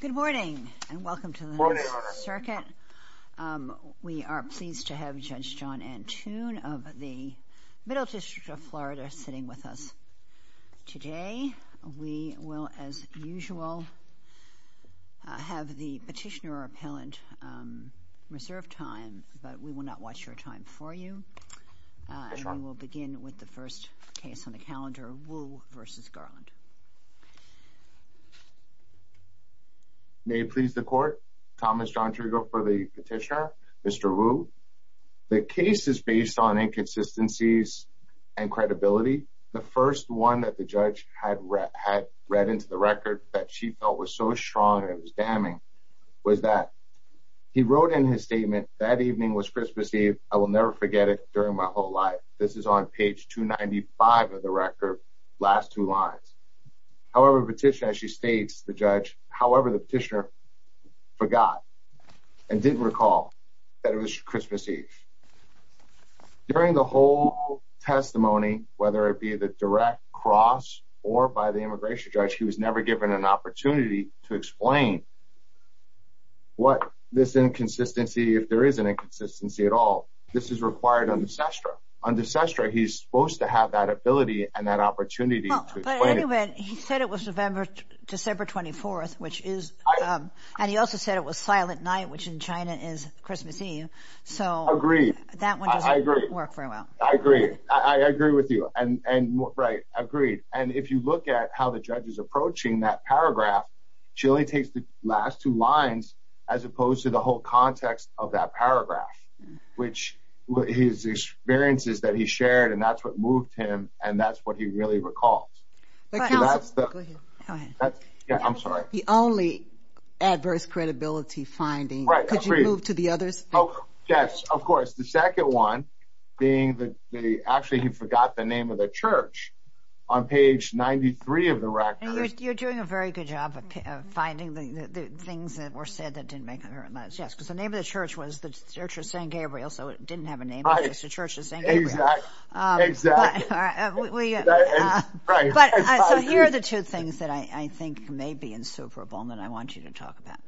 Good morning and welcome to the House Circuit. We are pleased to have Judge John Antune of the Middle District of Florida sitting with us today. We will as usual have the petitioner or appellant reserve time but we will not watch your time for you. We will begin with the first case on the calendar Wu v. Merrick Garland. May it please the court. Thomas John Trigger for the petitioner. Mr. Wu. The case is based on inconsistencies and credibility. The first one that the judge had read into the record that she felt was so strong and it was damning was that he wrote in his statement that evening was Christmas Eve. I will never however petition as she states the judge however the petitioner forgot and didn't recall that it was Christmas Eve. During the whole testimony whether it be the direct cross or by the immigration judge he was never given an opportunity to explain what this inconsistency if there is an inconsistency at all this is required on the sestra. On the sestra he's supposed to have that ability and that opportunity to explain it. He said it was December 24th which is and he also said it was silent night which in China is Christmas Eve so. Agreed. That one doesn't work very well. I agree I agree with you and and right agreed and if you look at how the judge is approaching that paragraph she only takes the last two lines as opposed to the whole context of that paragraph which his experiences that he shared and that's what moved him and that's what he really recalls. The only adverse credibility finding. Could you move to the others? Yes of course the second one being the actually he forgot the name of the church on page 93 of the record. You're doing a very good job of finding the things that were said that didn't make sense because the name of the church was the church of St. Gabriel so it didn't have a name it was the church of St. Gabriel. Exactly. So here are the two things that I think may be insuperable that I want you to talk about.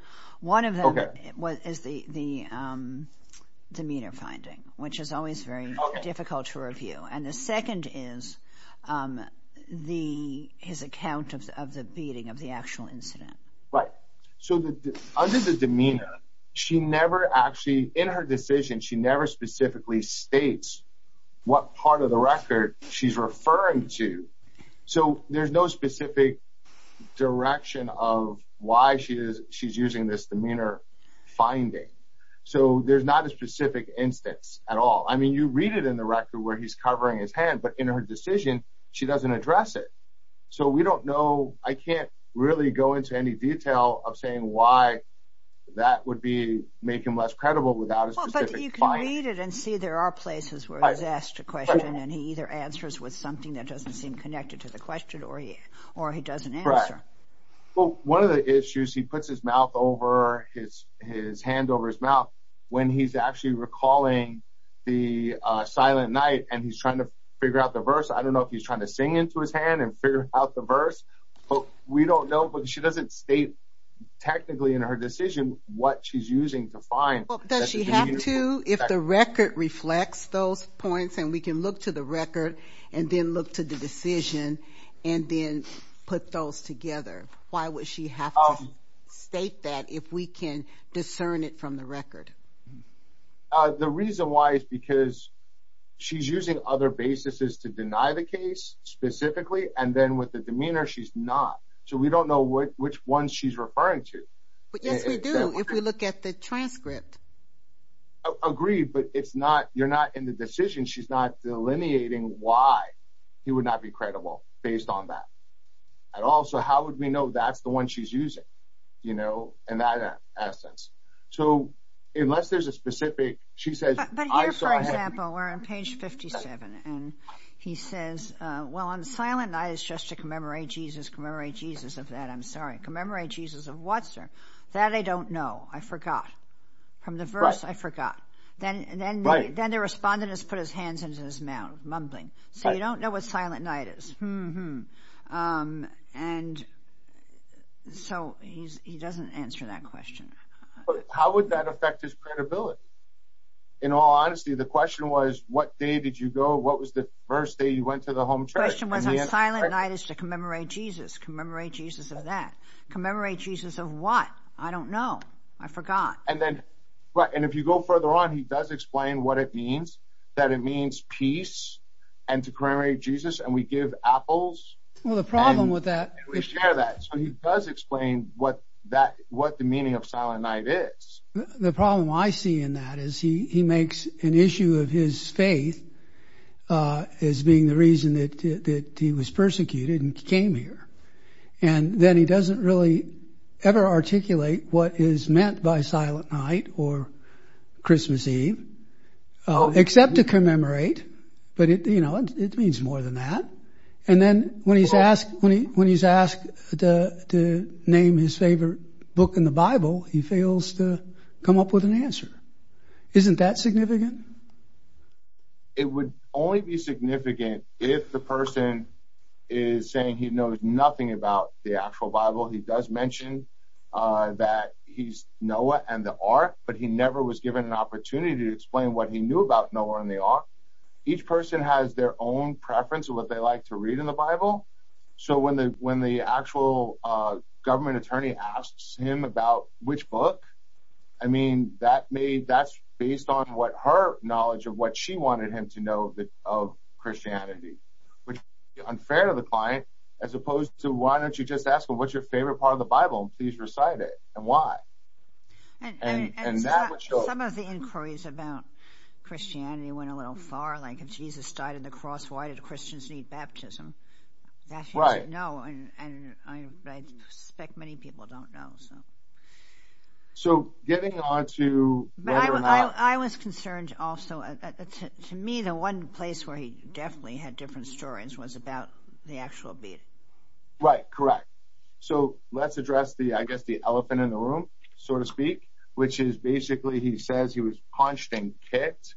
One of them is the demeanor finding which is always very difficult to review and the second is the his account of the beating of the actual incident. Right so under the demeanor she never actually in her decision she never specifically states what part of the record she's referring to so there's no specific direction of why she is she's using this demeanor finding so there's not a specific instance at all I mean you read it in the record where he's covering his hand but in her decision she doesn't address it so we don't know I can't really go into any detail of saying why that would be making less credible without a specific finding. Read it and see there are places where he's asked a question and he either answers with something that doesn't seem connected to the question or he doesn't answer. Well one of the issues he puts his mouth over his hand over his mouth when he's actually recalling the silent night and he's trying to figure out the verse I don't know if he's trying to sing into his hand and figure out the verse but we don't know but she doesn't state technically in her decision what she's referring to. The record reflects those points and we can look to the record and then look to the decision and then put those together why would she have to state that if we can discern it from the record. The reason why is because she's using other basis is to deny the case specifically and then with the demeanor she's not so we don't know what which one she's referring to. But yes we do if we look at the transcript. Agreed but it's not you're not in the decision she's not delineating why he would not be credible based on that. And also how would we know that's the one she's using you know and that essence. So unless there's a specific she says. But here for example we're on page 57 and he says well on silent night is just to commemorate Jesus commemorate Jesus of that I'm sorry commemorate Jesus of what sir that I don't know I forgot from the verse I forgot. Then the respondent has put his hands into his mouth mumbling so you don't know what silent night is. And so he doesn't answer that question. How would that affect his credibility. In all honesty the question was what day did you go what was the first day you went to the home church. The question was on silent night is to commemorate Jesus commemorate Jesus of that commemorate Jesus of what I don't know I forgot. And then what and if you go further on he does explain what it means that it means peace and to commemorate Jesus and we give apples. Well the problem with that is that he does explain what that what the meaning of silent night is. The problem I see in that is he makes an issue of his faith as being the reason that he was persecuted and came here. And then he doesn't really ever articulate what is meant by silent night or Christmas Eve. Except to commemorate. But you know it means more than that. And then when he's asked when he when he's asked to name his favorite book in the Bible he fails to come up with an answer. Isn't that significant. It would only be significant if the person is saying he knows nothing about the actual Bible. He does mention that he's Noah and the Ark but he never was given an opportunity to explain what he knew about Noah and the Ark. Each person has their own preference of what they like to read in the Bible. So when the when the actual government attorney asks him about which book. I mean that made that's based on what her knowledge of what she wanted him to know of Christianity. Which is unfair to the client as opposed to why don't you just ask him what's your favorite part of the Bible. Please recite it. And why. And some of the inquiries about Christianity went a little far like Jesus died in the cross. Why did Christians need baptism. Right. No. And I suspect many people don't know. So getting on to. I was concerned also to me the one place where he definitely had different stories was about the actual beating. Right. Correct. So let's address the I guess the elephant in the room so to speak which is basically he says he was punched and kicked.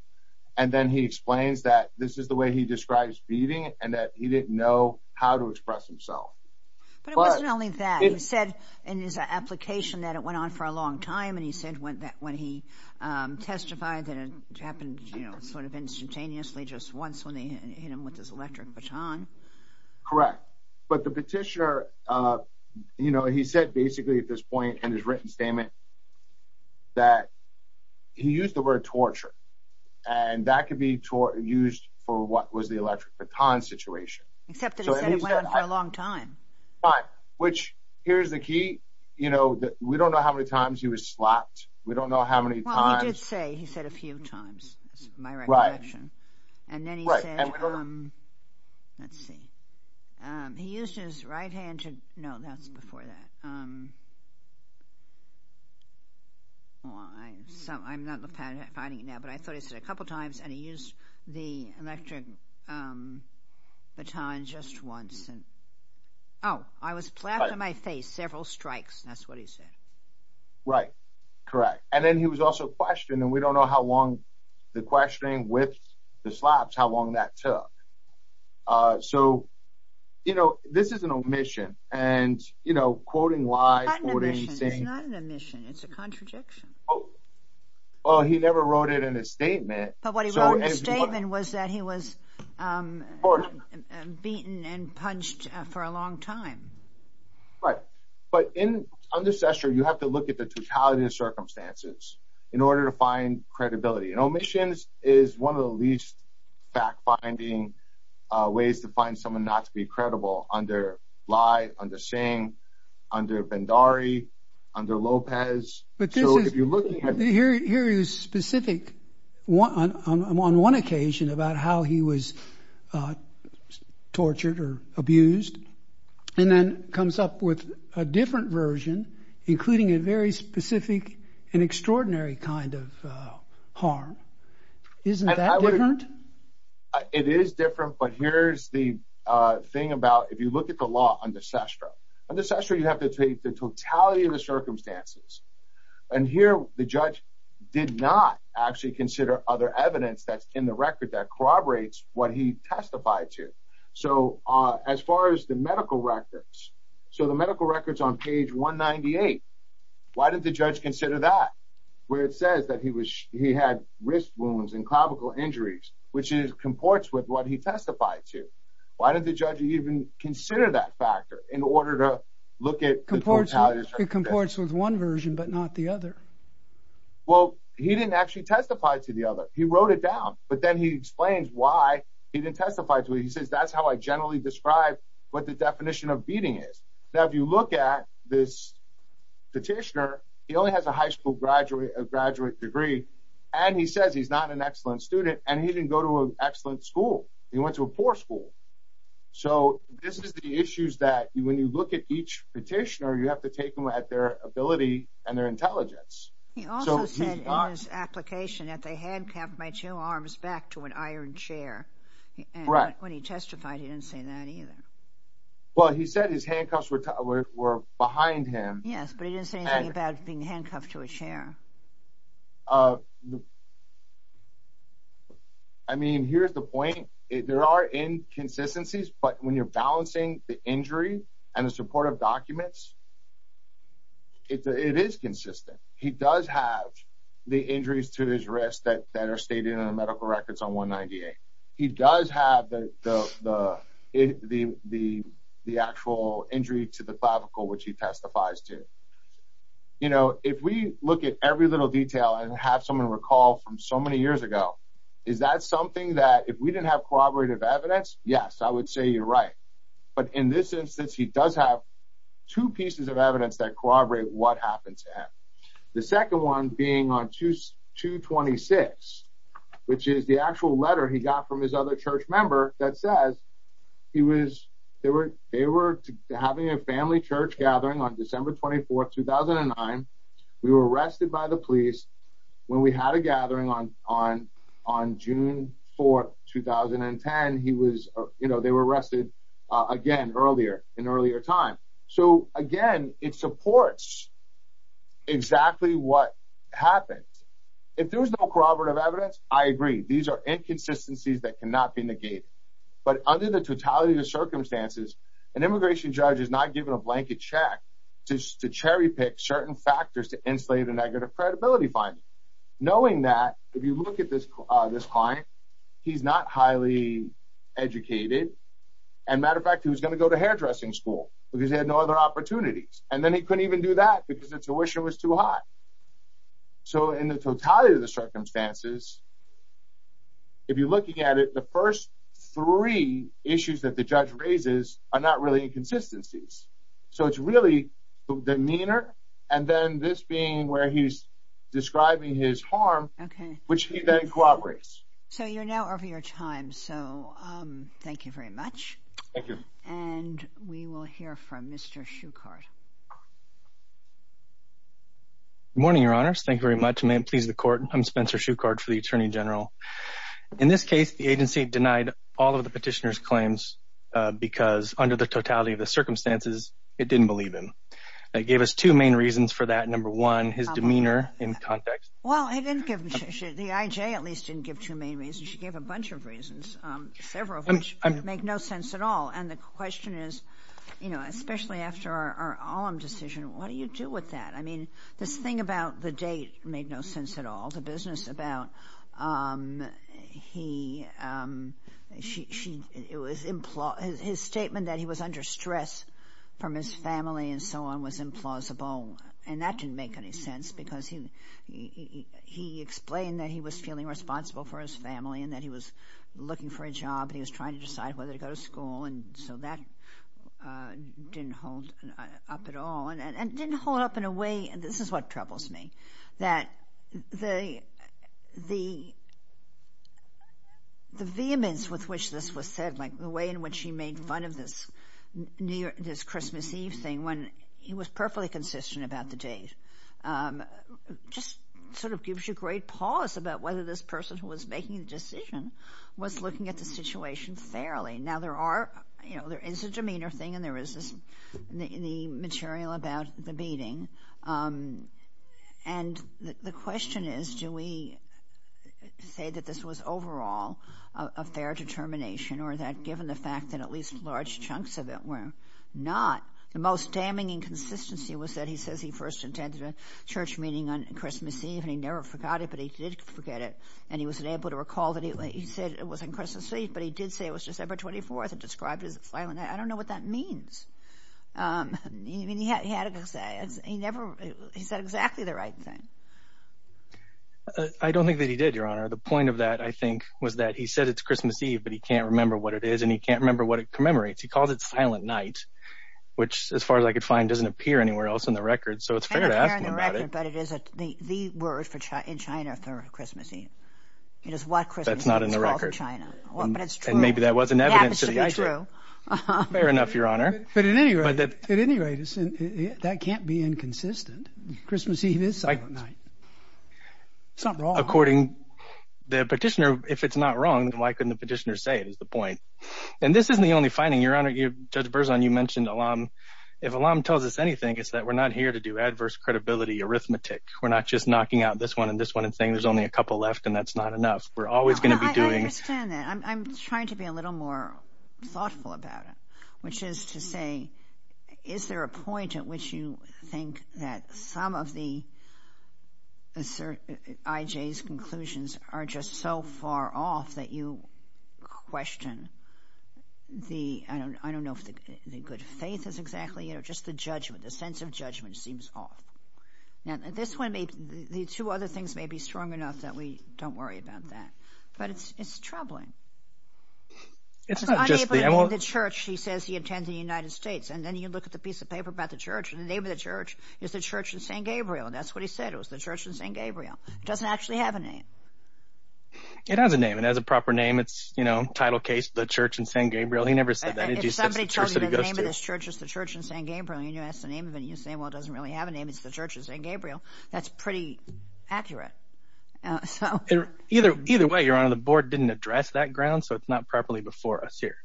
And then he explains that this is the way he describes beating and that he didn't know how to express himself. But it wasn't only that. He said in his application that it went on for a long time. And he said when he testified that it happened sort of instantaneously just once when they hit him with his electric baton. Correct. But the petitioner you know he said basically at this point in his written statement that he used the word torture. And that could be used for what was the electric baton situation. Except that he said it went on for a long time. Fine. Which here's the key you know that we don't know how many times he was slapped. We don't know how many times. Well he did say he said a few times. That's my recollection. Right. And then he said. Right. Let's see. He used his right hand to. No that's before that. I'm not finding it now. But I thought he said a couple times and he used the electric baton just once. Oh I was slapped in my face several strikes. That's what he said. Right. Correct. And then he was also questioned and we don't know how long the questioning with the slaps how long that took. So you know this is an omission. And you know quoting lies. It's not an omission. It's a contradiction. Oh. Well he never wrote it in his statement. But what he wrote in his statement was that he was beaten and punched for a long time. Right. But in under Cessna you have to look at the totality of circumstances in order to find credibility. And omissions is one of the least fact finding ways to find someone not to be credible under Lie, under Singh, under Bhandari, under Lopez. But this is. So if you look at. Here he was specific on one occasion about how he was tortured or abused. And then comes up with a different version including a very specific and extraordinary kind of harm. Isn't that different? It is different. But here's the thing about if you look at the law under Cessna. Under Cessna you have to take the totality of the circumstances. And here the judge did not actually consider other evidence that's in the record that corroborates what he testified to. So as far as the medical records. So the medical records on page 198. Why did the judge consider that? Where it says that he had wrist wounds and clavicle injuries. Which comports with what he testified to. Why did the judge even consider that factor in order to look at the totality of circumstances? It comports with one version but not the other. Well he didn't actually testify to the other. He wrote it down. But then he explains why he didn't testify to it. He says that's how I generally describe what the definition of beating is. Now if you look at this petitioner. He only has a high school graduate degree. And he says he's not an excellent student. And he didn't go to an excellent school. He went to a poor school. So this is the issues that when you look at each petitioner you have to take them at their ability and their intelligence. He also said in his application that they handcuffed my two arms back to an iron chair. When he testified he didn't say that either. Well he said his handcuffs were behind him. Yes but he didn't say anything about being handcuffed to a chair. I mean here's the point. There are inconsistencies. But when you're balancing the injury and the supportive documents. It is consistent. He does have the injuries to his wrist that are stated in the medical records on 198. He does have the actual injury to the clavicle which he testifies to. You know if we look at every little detail and have someone recall from so many years ago. Is that something that if we didn't have corroborative evidence. Yes I would say you're right. But in this instance he does have two pieces of evidence that corroborate what happened to him. The second one being on 226. Which is the actual letter he got from his other church member that says. They were having a family church gathering on December 24, 2009. We were arrested by the police when we had a gathering on June 4, 2010. They were arrested again earlier in earlier time. So again it supports exactly what happened. If there was no corroborative evidence I agree. These are inconsistencies that cannot be negated. But under the totality of circumstances an immigration judge is not given a blanket check. To cherry pick certain factors to insulate a negative credibility finding. Knowing that if you look at this client. He's not highly educated. And matter of fact he was going to go to hairdressing school. Because he had no other opportunities. And then he couldn't even do that because the tuition was too high. So in the totality of the circumstances. If you're looking at it the first three issues that the judge raises are not really inconsistencies. So it's really demeanor. And then this being where he's describing his harm. Which he then corroborates. So you're now over your time. So thank you very much. Thank you. And we will hear from Mr. Shuchard. Good morning your honors. Thank you very much. May it please the court. I'm Spencer Shuchard for the Attorney General. In this case the agency denied all of the petitioner's claims. Because under the totality of the circumstances it didn't believe him. It gave us two main reasons for that. Number one, his demeanor in context. Well, the IJ at least didn't give two main reasons. She gave a bunch of reasons. Several of which make no sense at all. And the question is, you know, especially after our Olem decision, what do you do with that? I mean this thing about the date made no sense at all. He, his statement that he was under stress from his family and so on was implausible. And that didn't make any sense. Because he explained that he was feeling responsible for his family. And that he was looking for a job. And he was trying to decide whether to go to school. And so that didn't hold up at all. And it didn't hold up in a way, this is what troubles me. That the vehemence with which this was said. Like the way in which he made fun of this Christmas Eve thing. When he was perfectly consistent about the date. Just sort of gives you great pause about whether this person who was making the decision was looking at the situation fairly. Now there are, you know, there is a demeanor thing. And there is this, the material about the meeting. And the question is do we say that this was overall a fair determination. Or that given the fact that at least large chunks of it were not. The most damning inconsistency was that he says he first attended a church meeting on Christmas Eve. And he never forgot it, but he did forget it. And he was able to recall that he said it was on Christmas Eve. But he did say it was December 24th and described it as a silent night. I don't know what that means. I mean he had a good say. He never, he said exactly the right thing. I don't think that he did, Your Honor. The point of that I think was that he said it's Christmas Eve, but he can't remember what it is. And he can't remember what it commemorates. He calls it silent night. Which as far as I could find doesn't appear anywhere else in the record. So it's fair to ask him about it. It doesn't appear in the record, but it is the word in China for Christmas Eve. It is what Christmas Eve is called in China. That's not in the record. But it's true. And maybe that wasn't evidence to the idea. Yeah, but it should be true. Fair enough, Your Honor. But at any rate, that can't be inconsistent. Christmas Eve is silent night. It's not wrong. According, the petitioner, if it's not wrong, why couldn't the petitioner say it is the point. And this isn't the only finding, Your Honor. Judge Berzon, you mentioned Alam. If Alam tells us anything, it's that we're not here to do adverse credibility arithmetic. We're not just knocking out this one and this one and saying there's only a couple left and that's not enough. We're always going to be doing. I understand that. I'm trying to be a little more thoughtful about it, which is to say, is there a point at which you think that some of the IJ's conclusions are just so far off that you question the, I don't know if the good faith is exactly, you know, just the judgment, the sense of judgment seems off. Now, this one, the two other things may be strong enough that we don't worry about that. But it's troubling. It's not just the – The church, he says he attends in the United States. And then you look at the piece of paper about the church and the name of the church is the Church in San Gabriel. That's what he said. It was the Church in San Gabriel. It doesn't actually have a name. It has a name. It has a proper name. It's, you know, title case, the Church in San Gabriel. He never said that. If somebody tells you the name of this church is the Church in San Gabriel and you ask the name of it, you say, well, it doesn't really have a name. It's the Church in San Gabriel. That's pretty accurate. Either way, Your Honor, the Board didn't address that ground, so it's not properly before us here.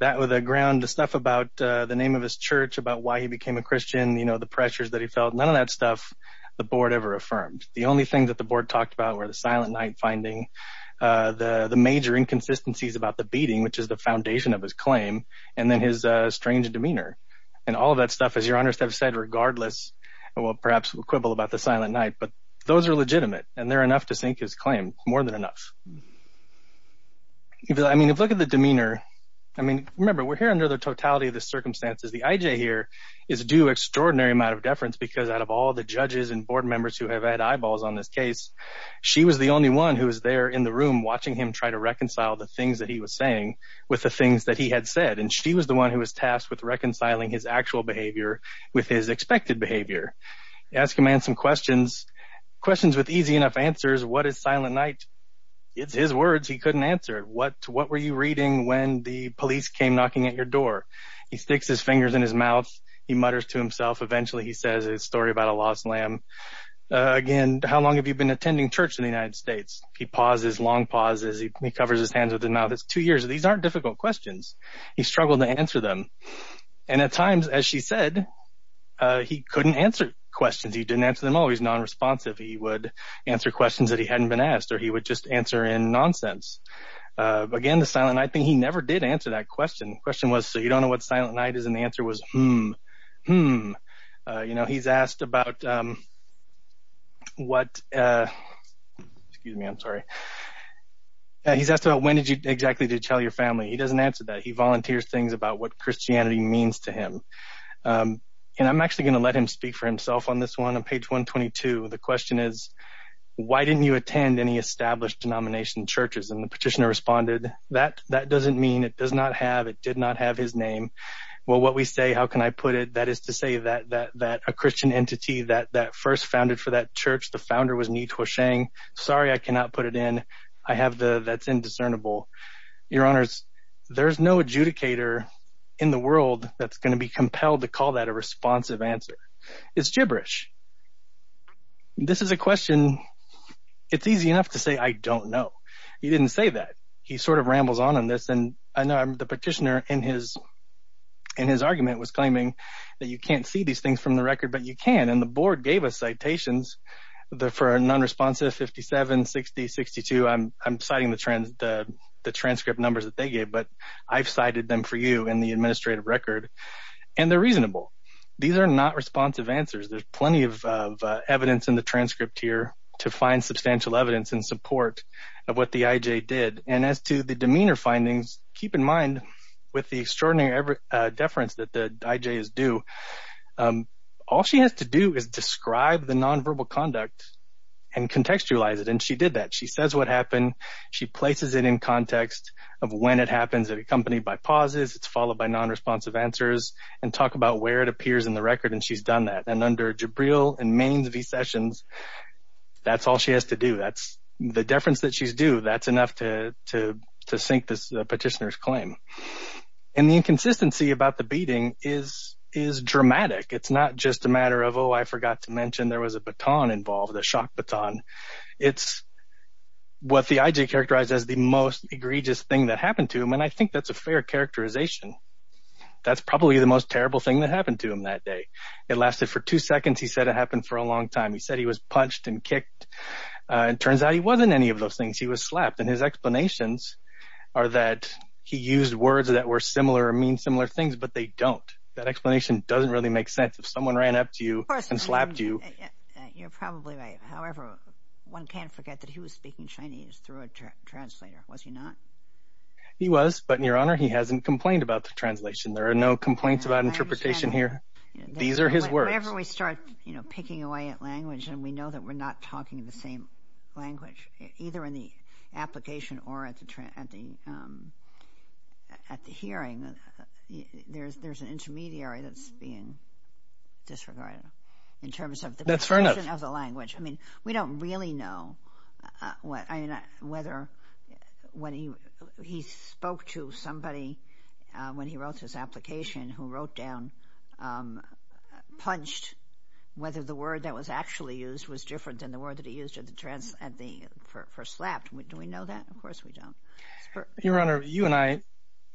That was the ground, the stuff about the name of his church, about why he became a Christian, you know, the pressures that he felt, none of that stuff the Board ever affirmed. The only thing that the Board talked about were the silent night finding, the major inconsistencies about the beating, which is the foundation of his claim, and then his strange demeanor. And all of that stuff, as Your Honors have said, regardless, well, perhaps we'll quibble about the silent night, but those are legitimate, and they're enough to sink his claim, more than enough. I mean, if you look at the demeanor, I mean, remember, we're here under the totality of the circumstances. The IJ here is due an extraordinary amount of deference because out of all the judges and Board members who have had eyeballs on this case, she was the only one who was there in the room watching him try to reconcile the things that he was saying with the things that he had said, and she was the one who was tasked with reconciling his actual behavior with his expected behavior. Ask a man some questions, questions with easy enough answers. What is silent night? It's his words he couldn't answer. What were you reading when the police came knocking at your door? He sticks his fingers in his mouth. He mutters to himself. Eventually, he says his story about a lost lamb. Again, how long have you been attending church in the United States? He pauses, long pauses. He covers his hands with his mouth. It's two years. These aren't difficult questions. He struggled to answer them, and at times, as she said, he couldn't answer questions. He didn't answer them all. He's nonresponsive. He would answer questions that he hadn't been asked, or he would just answer in nonsense. Again, the silent night thing, he never did answer that question. The question was, so you don't know what silent night is, and the answer was, hmm, hmm. He's asked about when exactly did you tell your family? He doesn't answer that. He volunteers things about what Christianity means to him. And I'm actually going to let him speak for himself on this one. On page 122, the question is, why didn't you attend any established denomination churches? And the petitioner responded, that doesn't mean. It does not have. It did not have his name. Well, what we say, how can I put it? That is to say that a Christian entity that first founded for that church, the founder was Ni Tuo Sheng. Sorry I cannot put it in. I have the, that's indiscernible. Your Honors, there's no adjudicator in the world that's going to be compelled to call that a responsive answer. It's gibberish. This is a question, it's easy enough to say, I don't know. He didn't say that. He sort of rambles on on this. And I know the petitioner in his argument was claiming that you can't see these things from the record, but you can. And the board gave us citations for nonresponsive, 57, 60, 62. I'm citing the transcript numbers that they gave, but I've cited them for you in the administrative record. And they're reasonable. These are not responsive answers. There's plenty of evidence in the transcript here to find substantial evidence in support of what the IJ did. And as to the demeanor findings, keep in mind with the extraordinary deference that the IJ is due, all she has to do is describe the nonverbal conduct and contextualize it. And she did that. She says what happened. She places it in context of when it happens. It's accompanied by pauses. It's followed by nonresponsive answers. And talk about where it appears in the record. And she's done that. And under Jabril and Maine's v. Sessions, that's all she has to do. That's the deference that she's due. That's enough to sink this petitioner's claim. And the inconsistency about the beating is dramatic. It's not just a matter of, oh, I forgot to mention there was a baton involved, a shock baton. It's what the IJ characterized as the most egregious thing that happened to him. And I think that's a fair characterization. That's probably the most terrible thing that happened to him that day. It lasted for two seconds. He said it happened for a long time. He said he was punched and kicked. It turns out he wasn't any of those things. He was slapped. And his explanations are that he used words that were similar or mean similar things, but they don't. That explanation doesn't really make sense. If someone ran up to you and slapped you. You're probably right. However, one can't forget that he was speaking Chinese through a translator, was he not? He was. But, Your Honor, he hasn't complained about the translation. There are no complaints about interpretation here. These are his words. Whenever we start picking away at language and we know that we're not talking the same language, either in the application or at the hearing, there's an intermediary that's being disregarded. That's fair enough. We don't really know whether when he spoke to somebody, when he wrote his application, who wrote down, punched, whether the word that was actually used was different than the word that he used for slapped. Do we know that? Of course we don't. Your Honor, you and I,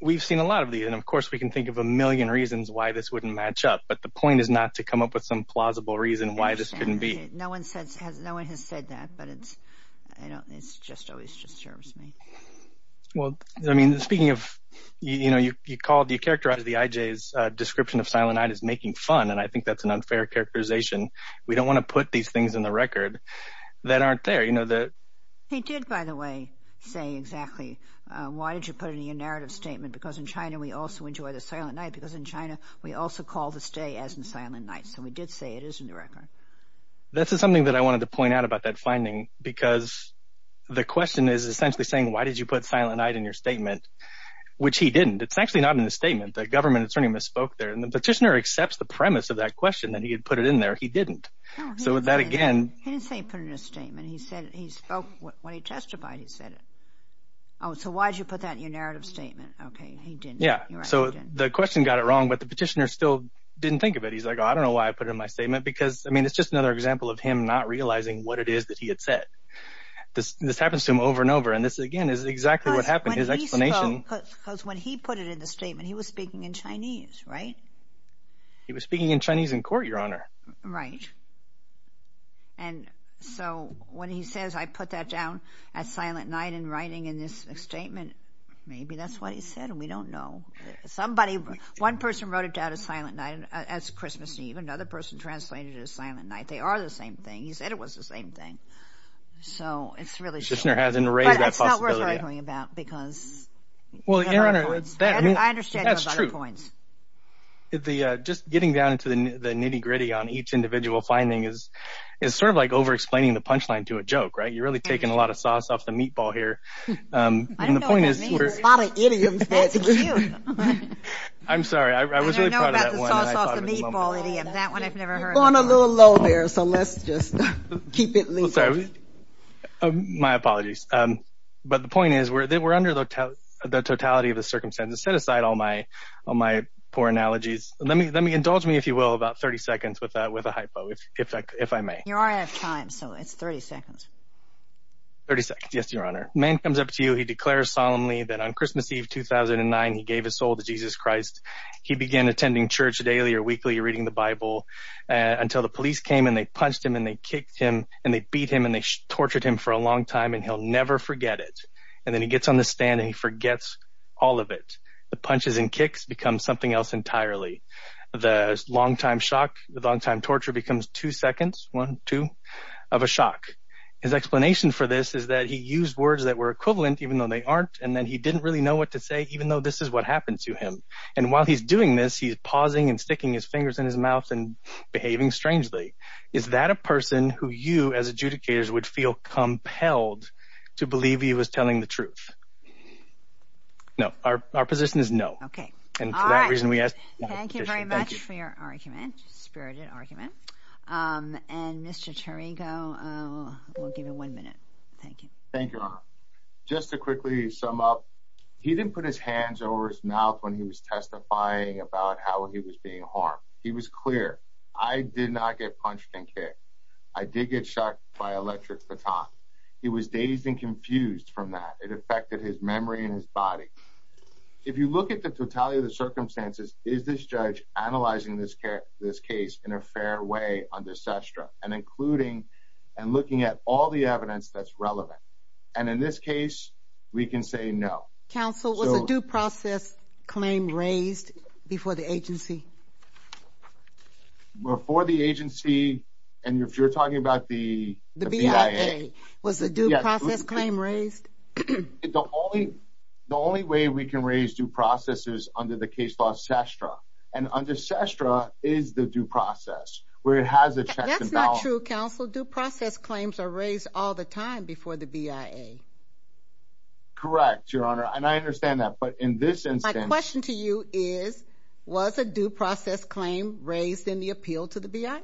we've seen a lot of these. And, of course, we can think of a million reasons why this wouldn't match up. But the point is not to come up with some plausible reason why this couldn't be. No one has said that. But it just always disturbs me. Well, I mean, speaking of, you know, you characterized the IJ's description of Silent Night as making fun. And I think that's an unfair characterization. We don't want to put these things in the record that aren't there. He did, by the way, say exactly, why did you put it in your narrative statement? Because in China we also enjoy the Silent Night because in China we also call the stay as in Silent Night. So we did say it is in the record. This is something that I wanted to point out about that finding because the question is essentially saying, why did you put Silent Night in your statement? Which he didn't. It's actually not in the statement. The government attorney misspoke there. And the petitioner accepts the premise of that question that he had put it in there. He didn't. So that again. He didn't say he put it in his statement. He said he spoke when he testified he said it. So why did you put that in your narrative statement? Okay, he didn't. Yeah. So the question got it wrong, but the petitioner still didn't think of it. He's like, I don't know why I put it in my statement. Because, I mean, it's just another example of him not realizing what it is that he had said. This happens to him over and over. And this, again, is exactly what happened. His explanation. Because when he put it in the statement, he was speaking in Chinese, right? He was speaking in Chinese in court, Your Honor. Right. And so when he says, I put that down at silent night in writing in this statement, maybe that's what he said and we don't know. Somebody, one person wrote it down at silent night as Christmas Eve. Another person translated it as silent night. They are the same thing. He said it was the same thing. So it's really. The petitioner hasn't raised that possibility. But it's not worth arguing about because. Well, Your Honor, that's true. I understand your other points. Just getting down into the nitty-gritty on each individual finding is sort of like over-explaining the punchline to a joke, right? You're really taking a lot of sauce off the meatball here. I don't know what that means. A lot of idioms. I'm sorry. I was really proud of that one. I don't know about the sauce off the meatball idiom. That one I've never heard of. You're going a little low there, so let's just keep it legal. Well, sorry. My apologies. But the point is, we're under the totality of the circumstances. Set aside all my poor analogies. Indulge me, if you will, about 30 seconds with a hypo, if I may. You are out of time, so it's 30 seconds. 30 seconds, yes, Your Honor. A man comes up to you. He declares solemnly that on Christmas Eve 2009 he gave his soul to Jesus Christ. He began attending church daily or weekly, reading the Bible, until the police came and they punched him and they kicked him and they beat him and they tortured him for a long time and he'll never forget it. And then he gets on the stand and he forgets all of it. The punches and kicks become something else entirely. The long-time shock, the long-time torture becomes two seconds, one, two, of a shock. His explanation for this is that he used words that were equivalent, even though they aren't, and that he didn't really know what to say, even though this is what happened to him. And while he's doing this, he's pausing and sticking his fingers in his mouth and behaving strangely. Is that a person who you, as adjudicators, would feel compelled to believe he was telling the truth? No. Our position is no. Okay. All right. Thank you very much for your argument, spirited argument. And Mr. Tirigo, we'll give you one minute. Thank you. Thank you, Your Honor. Just to quickly sum up, he didn't put his hands over his mouth when he was testifying about how he was being harmed. He was clear. I did not get punched and kicked. I did get shocked by electric baton. He was dazed and confused from that. It affected his memory and his body. If you look at the totality of the circumstances, is this judge analyzing this case in a fair way under SESTRA and including and looking at all the evidence that's relevant? And in this case, we can say no. Counsel, was a due process claim raised before the agency? Before the agency? And if you're talking about the BIA? The BIA. Was a due process claim raised? The only way we can raise due process is under the case law SESTRA. And under SESTRA is the due process where it has a check and balance. That's not true, Counsel. Due process claims are raised all the time before the BIA. Correct, Your Honor. And I understand that. But in this instance. My question to you is, was a due process claim raised in the appeal to the BIA?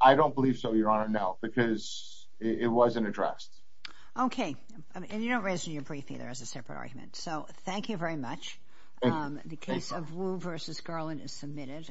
I don't believe so, Your Honor, no, because it wasn't addressed. Okay. And you don't raise it in your brief either as a separate argument. So thank you very much. Thank you. The case of Wu v. Garland is submitted.